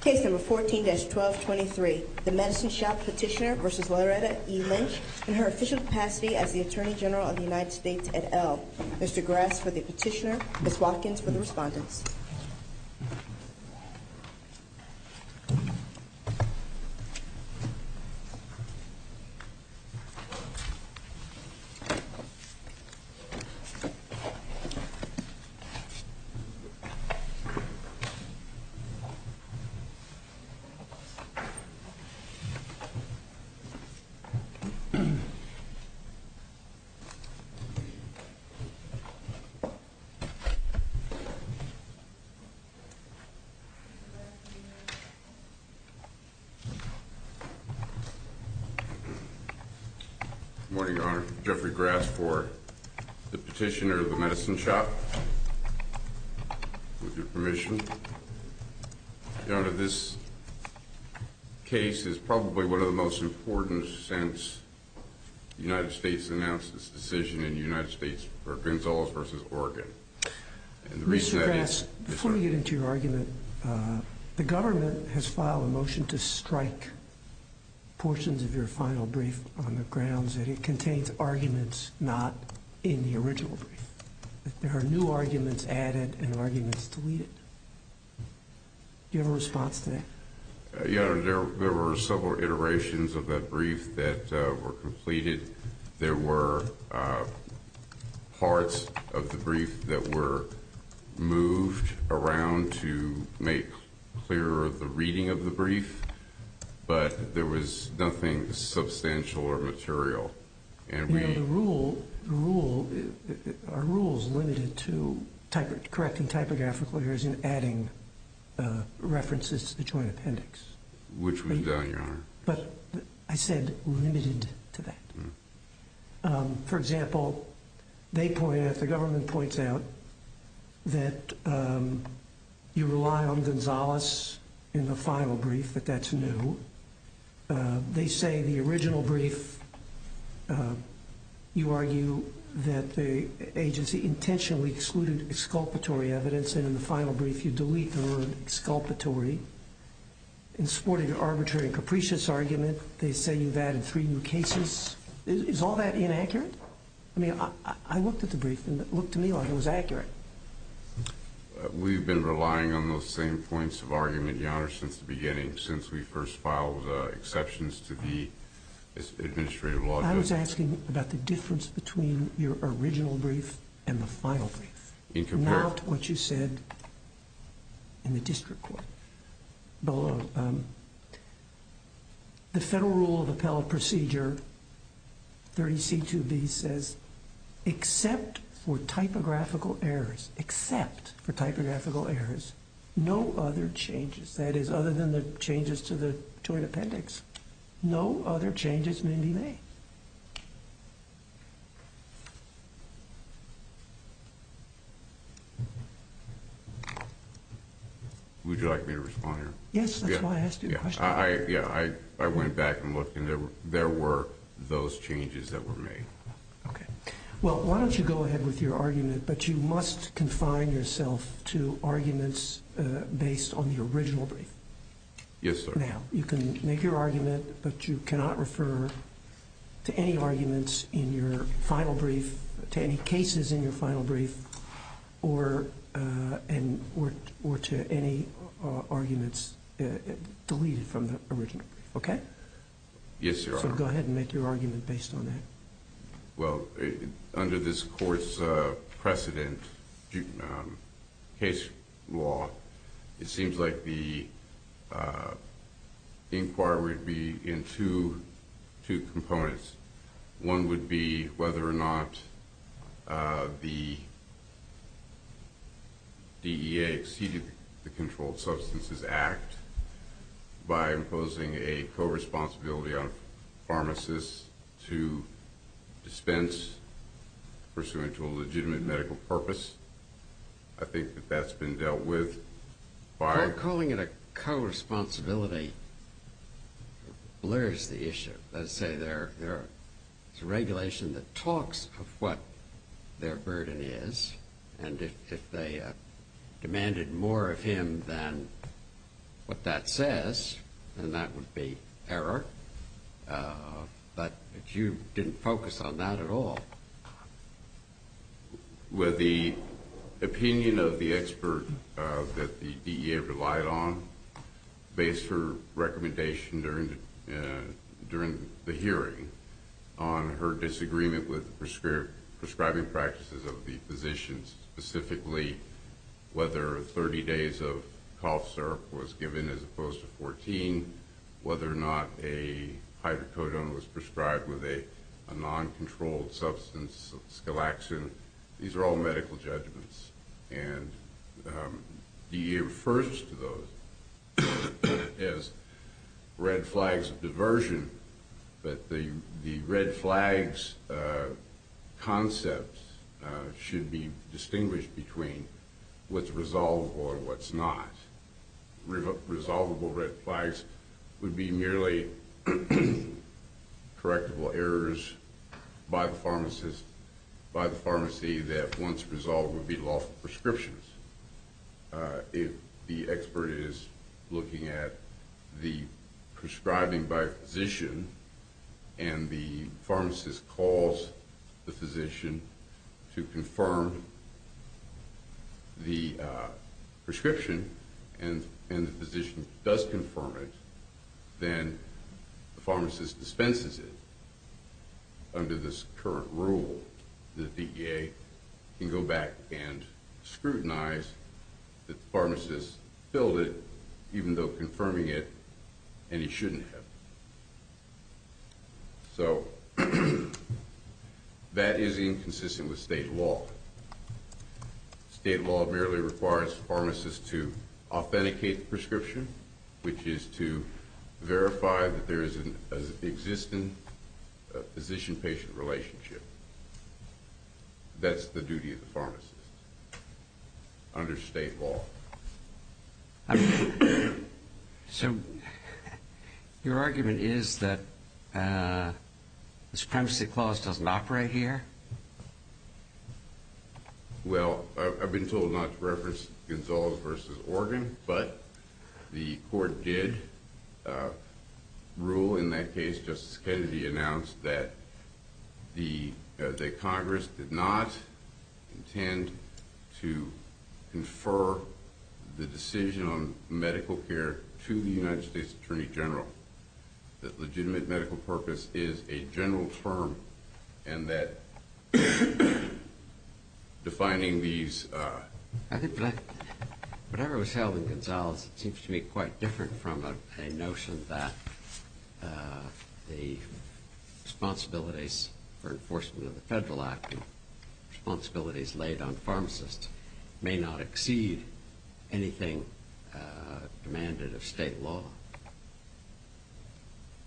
Case No. 14-1223, The Medicine Shoppe Petitioner v. Loretta E. Lynch and her official capacity as the Attorney General of the United States et al. Mr. Grass for the petitioner, Ms. Watkins for the respondents. Morning, Your Honor. Jeffrey Grass for the petitioner of the Medicine Shoppe. With your permission. Your Honor, this case is probably one of the most important since the United States announced its decision in the United States for Gonzales v. Oregon. Mr. Grass, before we get into your argument, the government has filed a motion to strike portions of your final brief on the grounds that it contains arguments not in the original brief. There are new arguments added and arguments deleted. Do you have a response to that? Your Honor, there were several iterations of that brief that were completed. There were parts of the brief that were moved around to make clearer the reading of the brief, but there was nothing substantial or material. Are rules limited to correcting typographical errors and adding references to the joint appendix? Which was done, Your Honor. But I said limited to that. For example, they point out, the government points out, that you rely on Gonzales in the final brief, but that's new. They say in the original brief you argue that the agency intentionally excluded exculpatory evidence, and in the final brief you delete the word exculpatory. In supporting an arbitrary and capricious argument, they say you've added three new cases. Is all that inaccurate? I mean, I looked at the brief and it looked to me like it was accurate. We've been relying on those same points of argument, Your Honor, since the beginning, since we first filed exceptions to the administrative law. I was asking about the difference between your original brief and the final brief. Not what you said in the district court. The federal rule of appellate procedure, 30C2B, says except for typographical errors, except for typographical errors, no other changes, that is, other than the changes to the joint appendix, no other changes may be made. Would you like me to respond here? Yes, that's why I asked you the question. Yeah, I went back and looked, and there were those changes that were made. Okay. Well, why don't you go ahead with your argument, but you must confine yourself to arguments based on the original brief. Yes, sir. Now, you can make your argument, but you cannot refer to any arguments in your final brief, to any cases in your final brief, or to any arguments deleted from the original brief. Okay? Yes, Your Honor. So go ahead and make your argument based on that. Well, under this court's precedent case law, it seems like the inquiry would be in two components. One would be whether or not the DEA exceeded the Controlled Substances Act by imposing a co-responsibility on pharmacists to dispense pursuant to a legitimate medical purpose. I think that that's been dealt with. Calling it a co-responsibility blurs the issue. Let's say there's a regulation that talks of what their burden is, and if they demanded more of him than what that says, then that would be error. But you didn't focus on that at all. Well, the opinion of the expert that the DEA relied on based her recommendation during the hearing on her disagreement with prescribing practices of the physicians, specifically whether 30 days of cough syrup was given as opposed to 14, whether or not a hydrocodone was prescribed with a non-controlled substance, skelaxin, these are all medical judgments. And the DEA refers to those as red flags of diversion, but the red flags concepts should be distinguished between what's resolvable and what's not. Resolvable red flags would be merely correctable errors by the pharmacist, by the pharmacy, that once resolved would be lawful prescriptions. If the expert is looking at the prescribing by a physician and the pharmacist calls the physician to confirm the prescription and the physician does confirm it, then the pharmacist dispenses it under this current rule. The DEA can go back and scrutinize that the pharmacist filled it, even though confirming it, and he shouldn't have. So that is inconsistent with state law. State law merely requires the pharmacist to authenticate the prescription, which is to verify that there is an existing physician-patient relationship. That's the duty of the pharmacist under state law. So your argument is that the Supremacy Clause doesn't operate here? Well, I've been told not to reference Gonzales v. Organ, but the court did rule in that case, Justice Kennedy announced, that Congress did not intend to confer the decision on medical care to the United States Attorney General. That legitimate medical purpose is a general term, and that defining these... I think whatever was held in Gonzales seems to me quite different from a notion that the responsibilities for enforcement of the Federal Act and responsibilities laid on pharmacists may not exceed anything demanded of state law.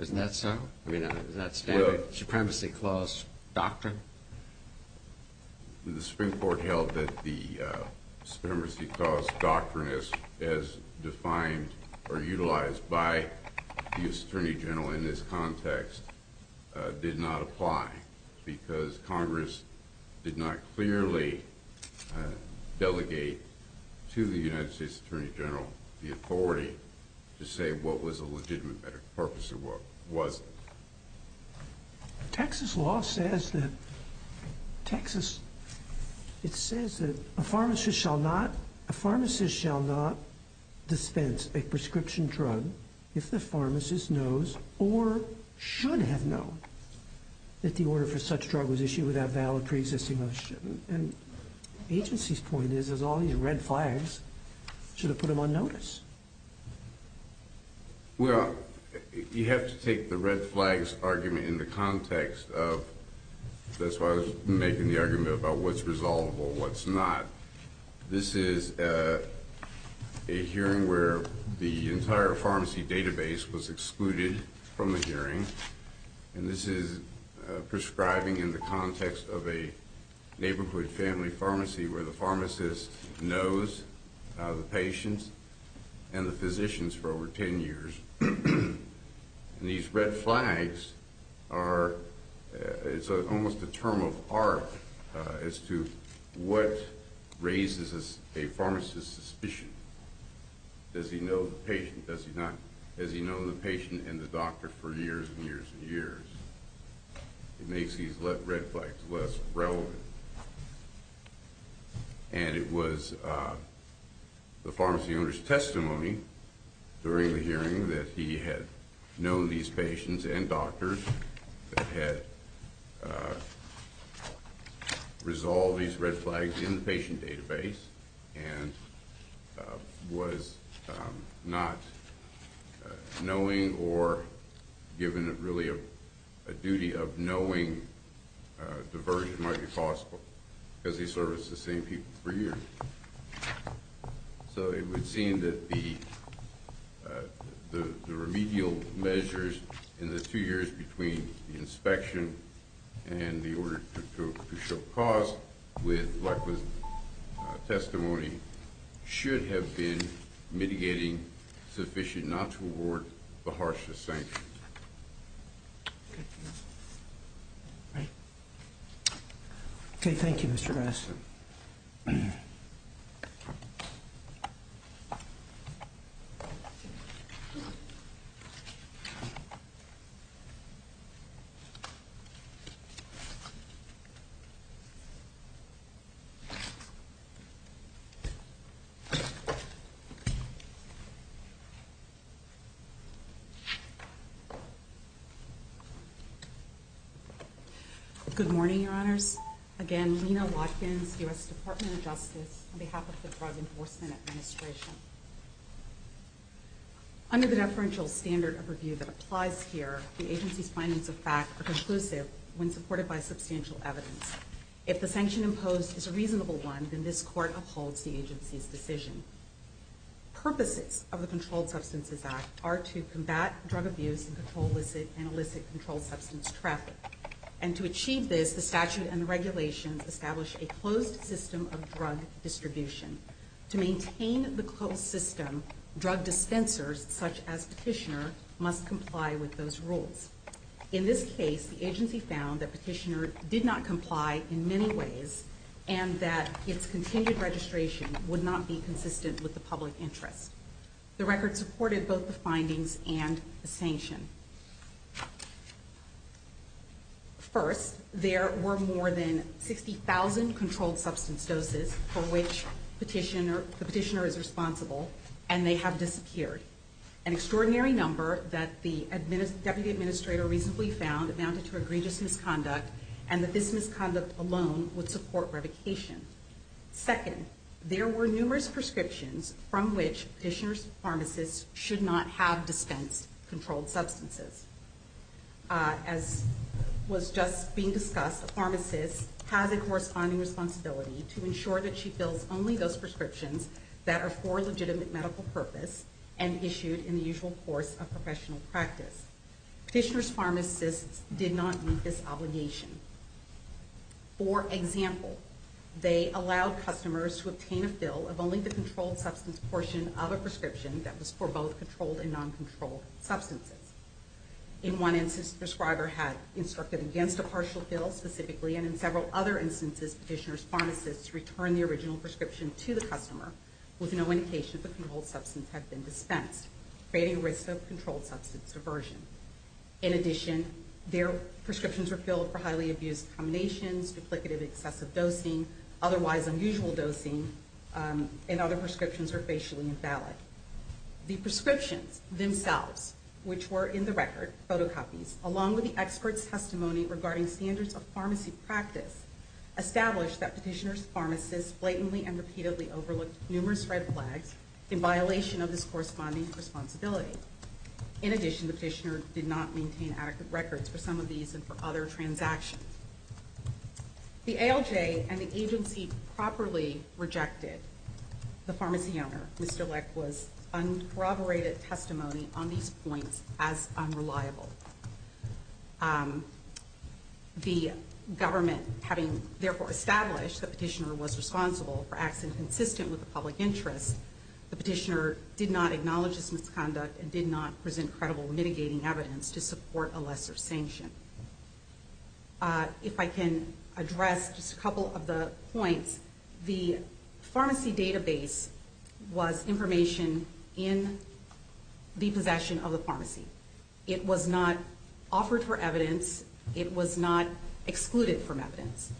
Isn't that so? I mean, is that standard Supremacy Clause doctrine? The Supreme Court held that the Supremacy Clause doctrine, as defined or utilized by the U.S. Attorney General in this context, did not apply. Because Congress did not clearly delegate to the United States Attorney General the authority to say what was a legitimate medical purpose and what wasn't. Texas law says that a pharmacist shall not dispense a prescription drug if the pharmacist knows, or should have known, that the order for such drug was issued without valid pre-existing knowledge. And the agency's point is that all these red flags should have put them on notice. Well, you have to take the red flags argument in the context of... That's why I was making the argument about what's resolvable, what's not. This is a hearing where the entire pharmacy database was excluded from the hearing. And this is prescribing in the context of a neighborhood family pharmacy where the pharmacist knows the patients and the physicians for over 10 years. And these red flags are almost a term of art as to what raises a pharmacist's suspicion. Does he know the patient? Does he not? Does he know the patient and the doctor for years and years and years? It makes these red flags less relevant. And it was the pharmacy owner's testimony during the hearing that he had known these patients and doctors, that had resolved these red flags in the patient database, and was not knowing or given really a duty of knowing the version might be possible, because he serviced the same people for years. So it would seem that the remedial measures in the two years between the inspection and the order to show cause, with Lackwood's testimony, should have been mitigating sufficient not to award the harshest sanctions. Okay, thank you, Mr. Rasmussen. Thank you. Again, Lina Watkins, U.S. Department of Justice, on behalf of the Drug Enforcement Administration. Under the deferential standard of review that applies here, the agency's findings of fact are conclusive when supported by substantial evidence. If the sanction imposed is a reasonable one, then this court upholds the agency's decision. Purposes of the Controlled Substances Act are to combat drug abuse and elicit controlled substance traffic. And to achieve this, the statute and regulations establish a closed system of drug distribution. To maintain the closed system, drug dispensers, such as Petitioner, must comply with those rules. In this case, the agency found that Petitioner did not comply in many ways, and that its continued registration would not be consistent with the public interest. First, there were more than 60,000 controlled substance doses for which Petitioner is responsible, and they have disappeared. An extraordinary number that the Deputy Administrator reasonably found amounted to egregious misconduct, and that this misconduct alone would support revocation. Second, there were numerous prescriptions from which Petitioner's pharmacist should not have dispensed controlled substances. As was just being discussed, a pharmacist has a corresponding responsibility to ensure that she fills only those prescriptions that are for legitimate medical purpose and issued in the usual course of professional practice. Petitioner's pharmacists did not meet this obligation. For example, they allowed customers to obtain a fill of only the controlled substance portion of a prescription that was for both controlled and non-controlled substances. In one instance, the prescriber had instructed against a partial fill specifically, and in several other instances, Petitioner's pharmacists returned the original prescription to the customer with no indication that the controlled substance had been dispensed, creating a risk of controlled substance aversion. In addition, their prescriptions were filled for highly abused combinations, duplicative excessive dosing, otherwise unusual dosing, and other prescriptions were facially invalid. The prescriptions themselves, which were in the record, photocopies, along with the expert's testimony regarding standards of pharmacy practice, established that Petitioner's pharmacists blatantly and repeatedly overlooked numerous red flags in violation of this corresponding responsibility. In addition, the Petitioner did not maintain adequate records for some of these and for other transactions. The ALJ and the agency properly rejected the pharmacy owner, Mr. Leck, was uncorroborated testimony on these points as unreliable. The government, having therefore established that Petitioner was responsible for acts inconsistent with the public interest, the Petitioner did not acknowledge this misconduct and did not present credible mitigating evidence to support a lesser sanction. If I can address just a couple of the points, the pharmacy database was information in the possession of the pharmacy. It was not offered for evidence. It was not excluded from evidence.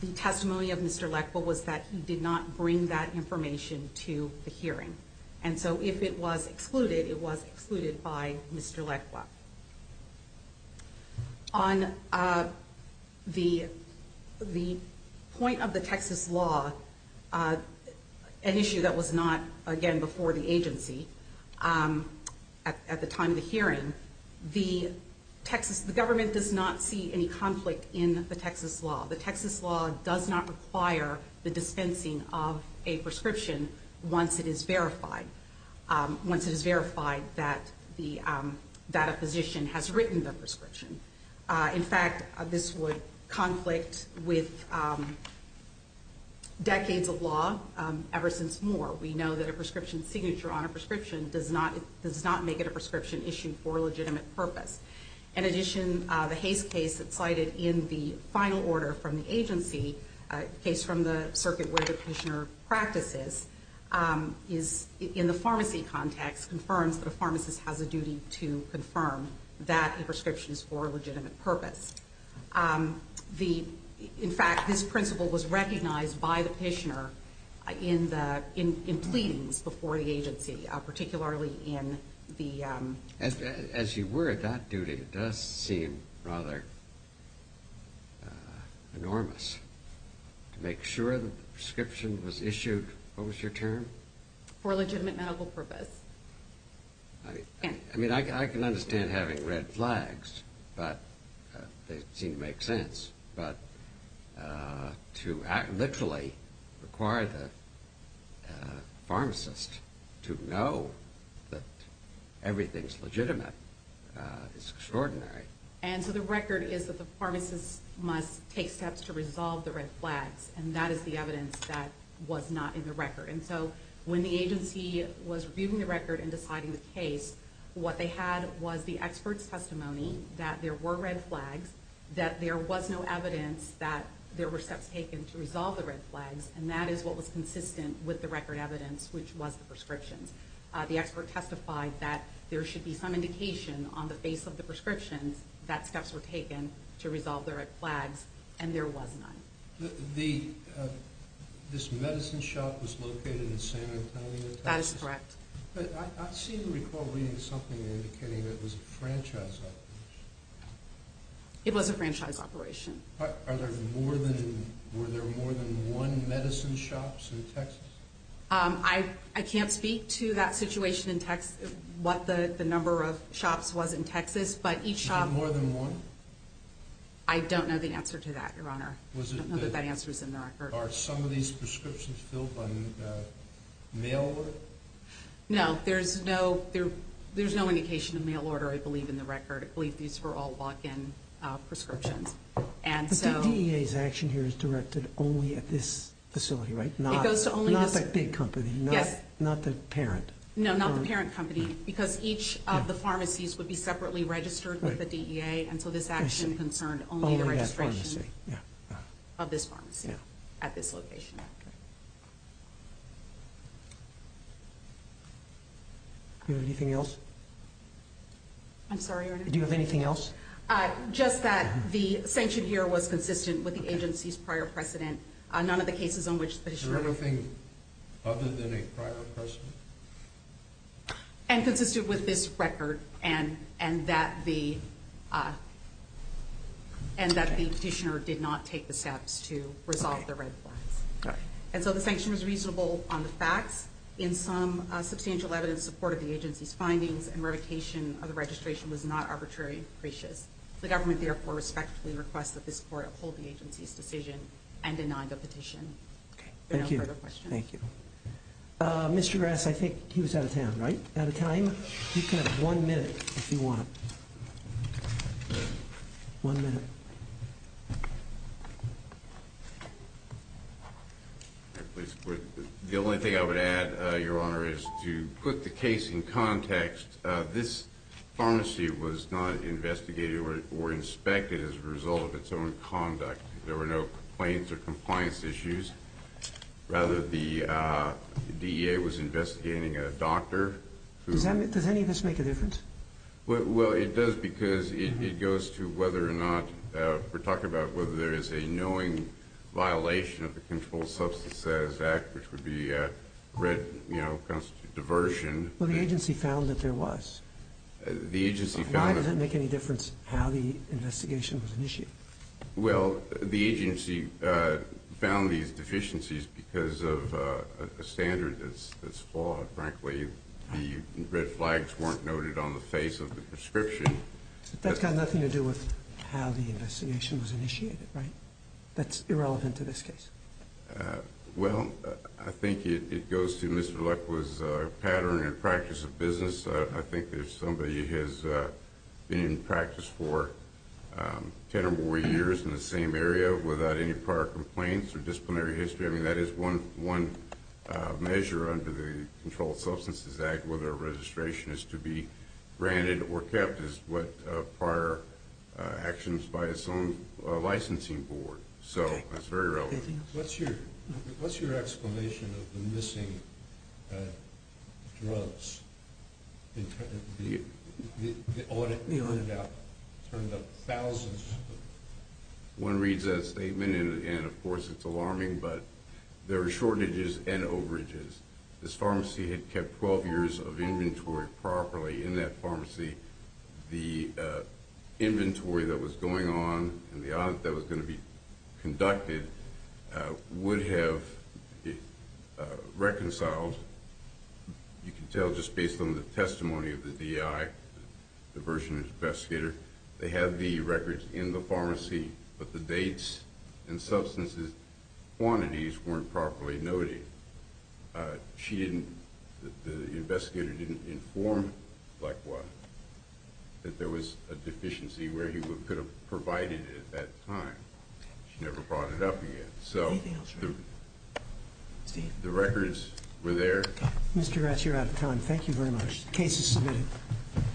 The testimony of Mr. Leck was that he did not bring that information to the hearing. And so if it was excluded, it was excluded by Mr. Leck. On the point of the Texas law, an issue that was not, again, before the agency, at the time of the hearing, the government does not see any conflict in the Texas law. The Texas law does not require the dispensing of a prescription once it is verified, once it is verified that a physician has written the prescription. In fact, this would conflict with decades of law ever since Moore. We know that a prescription signature on a prescription does not make it a prescription issued for a legitimate purpose. In addition, the Hays case that's cited in the final order from the agency, a case from the circuit where the petitioner practices, is in the pharmacy context, confirms that a pharmacist has a duty to confirm that a prescription is for a legitimate purpose. In fact, this principle was recognized by the petitioner in pleadings before the agency, particularly in the- As you were, that duty does seem rather enormous. To make sure that the prescription was issued, what was your term? For a legitimate medical purpose. I mean, I can understand having red flags, but they seem to make sense. But to literally require the pharmacist to know that everything's legitimate is extraordinary. And so the record is that the pharmacist must take steps to resolve the red flags, and that is the evidence that was not in the record. And so when the agency was reviewing the record and deciding the case, what they had was the expert's testimony that there were red flags, that there was no evidence that there were steps taken to resolve the red flags, and that is what was consistent with the record evidence, which was the prescriptions. The expert testified that there should be some indication on the face of the prescriptions that steps were taken to resolve the red flags, and there was none. This medicine shop was located in San Antonio, Texas? That is correct. But I seem to recall reading something indicating that it was a franchise operation. It was a franchise operation. Were there more than one medicine shops in Texas? I can't speak to that situation in what the number of shops was in Texas, but each shop— Was there more than one? I don't know the answer to that, Your Honor. I don't know that that answer is in the record. Are some of these prescriptions filled by mail order? No. There's no indication of mail order, I believe, in the record. I believe these were all walk-in prescriptions. But the DEA's action here is directed only at this facility, right? It goes to only this— Not that big company. Yes. Not the parent. No, not the parent company, because each of the pharmacies would be separately registered with the DEA, and so this action concerned only the registration of this pharmacy at this location. Do you have anything else? I'm sorry, Your Honor? Do you have anything else? Just that the sanction here was consistent with the agency's prior precedent. None of the cases on which the— Is there anything other than a prior precedent? And consistent with this record, and that the petitioner did not take the steps to resolve the red flags. All right. And so the sanction was reasonable on the facts. In some substantial evidence, support of the agency's findings and revocation of the registration was not arbitrary and capricious. The government, therefore, respectfully requests that this court uphold the agency's decision and deny the petition. Okay. Thank you. No further questions. Thank you. Mr. Grass, I think he was out of town, right? Out of time? You have one minute, if you want. One minute. The only thing I would add, Your Honor, is to put the case in context. This pharmacy was not investigated or inspected as a result of its own conduct. There were no complaints or compliance issues. Rather, the DEA was investigating a doctor who— Does any of this make a difference? Well, it does because it goes to whether or not—we're talking about whether there is a knowing violation of the Controlled Substances Act, which would be a red, you know, constitute diversion. Well, the agency found that there was. The agency found that— Why does it make any difference how the investigation was initiated? Well, the agency found these deficiencies because of a standard that's flawed. Frankly, the red flags weren't noted on the face of the prescription. That's got nothing to do with how the investigation was initiated, right? That's irrelevant to this case. Well, I think it goes to Mr. Lekwa's pattern and practice of business. I think if somebody has been in practice for 10 or more years in the same area without any prior complaints or disciplinary history, I mean, that is one measure under the Controlled Substances Act. Whether a registration is to be granted or kept is what prior actions by its own licensing board. So that's very relevant. What's your explanation of the missing drugs? The audit turned up thousands. One reads that statement, and, of course, it's alarming, but there are shortages and overages. This pharmacy had kept 12 years of inventory properly in that pharmacy. The inventory that was going on and the audit that was going to be conducted would have reconciled. You can tell just based on the testimony of the DI, the version of the investigator. They had the records in the pharmacy, but the dates and substances quantities weren't properly noted. The investigator didn't inform Lekwa that there was a deficiency where he could have provided it at that time. She never brought it up again. So the records were there. Mr. Ratz, you're out of time. Thank you very much. The case is submitted.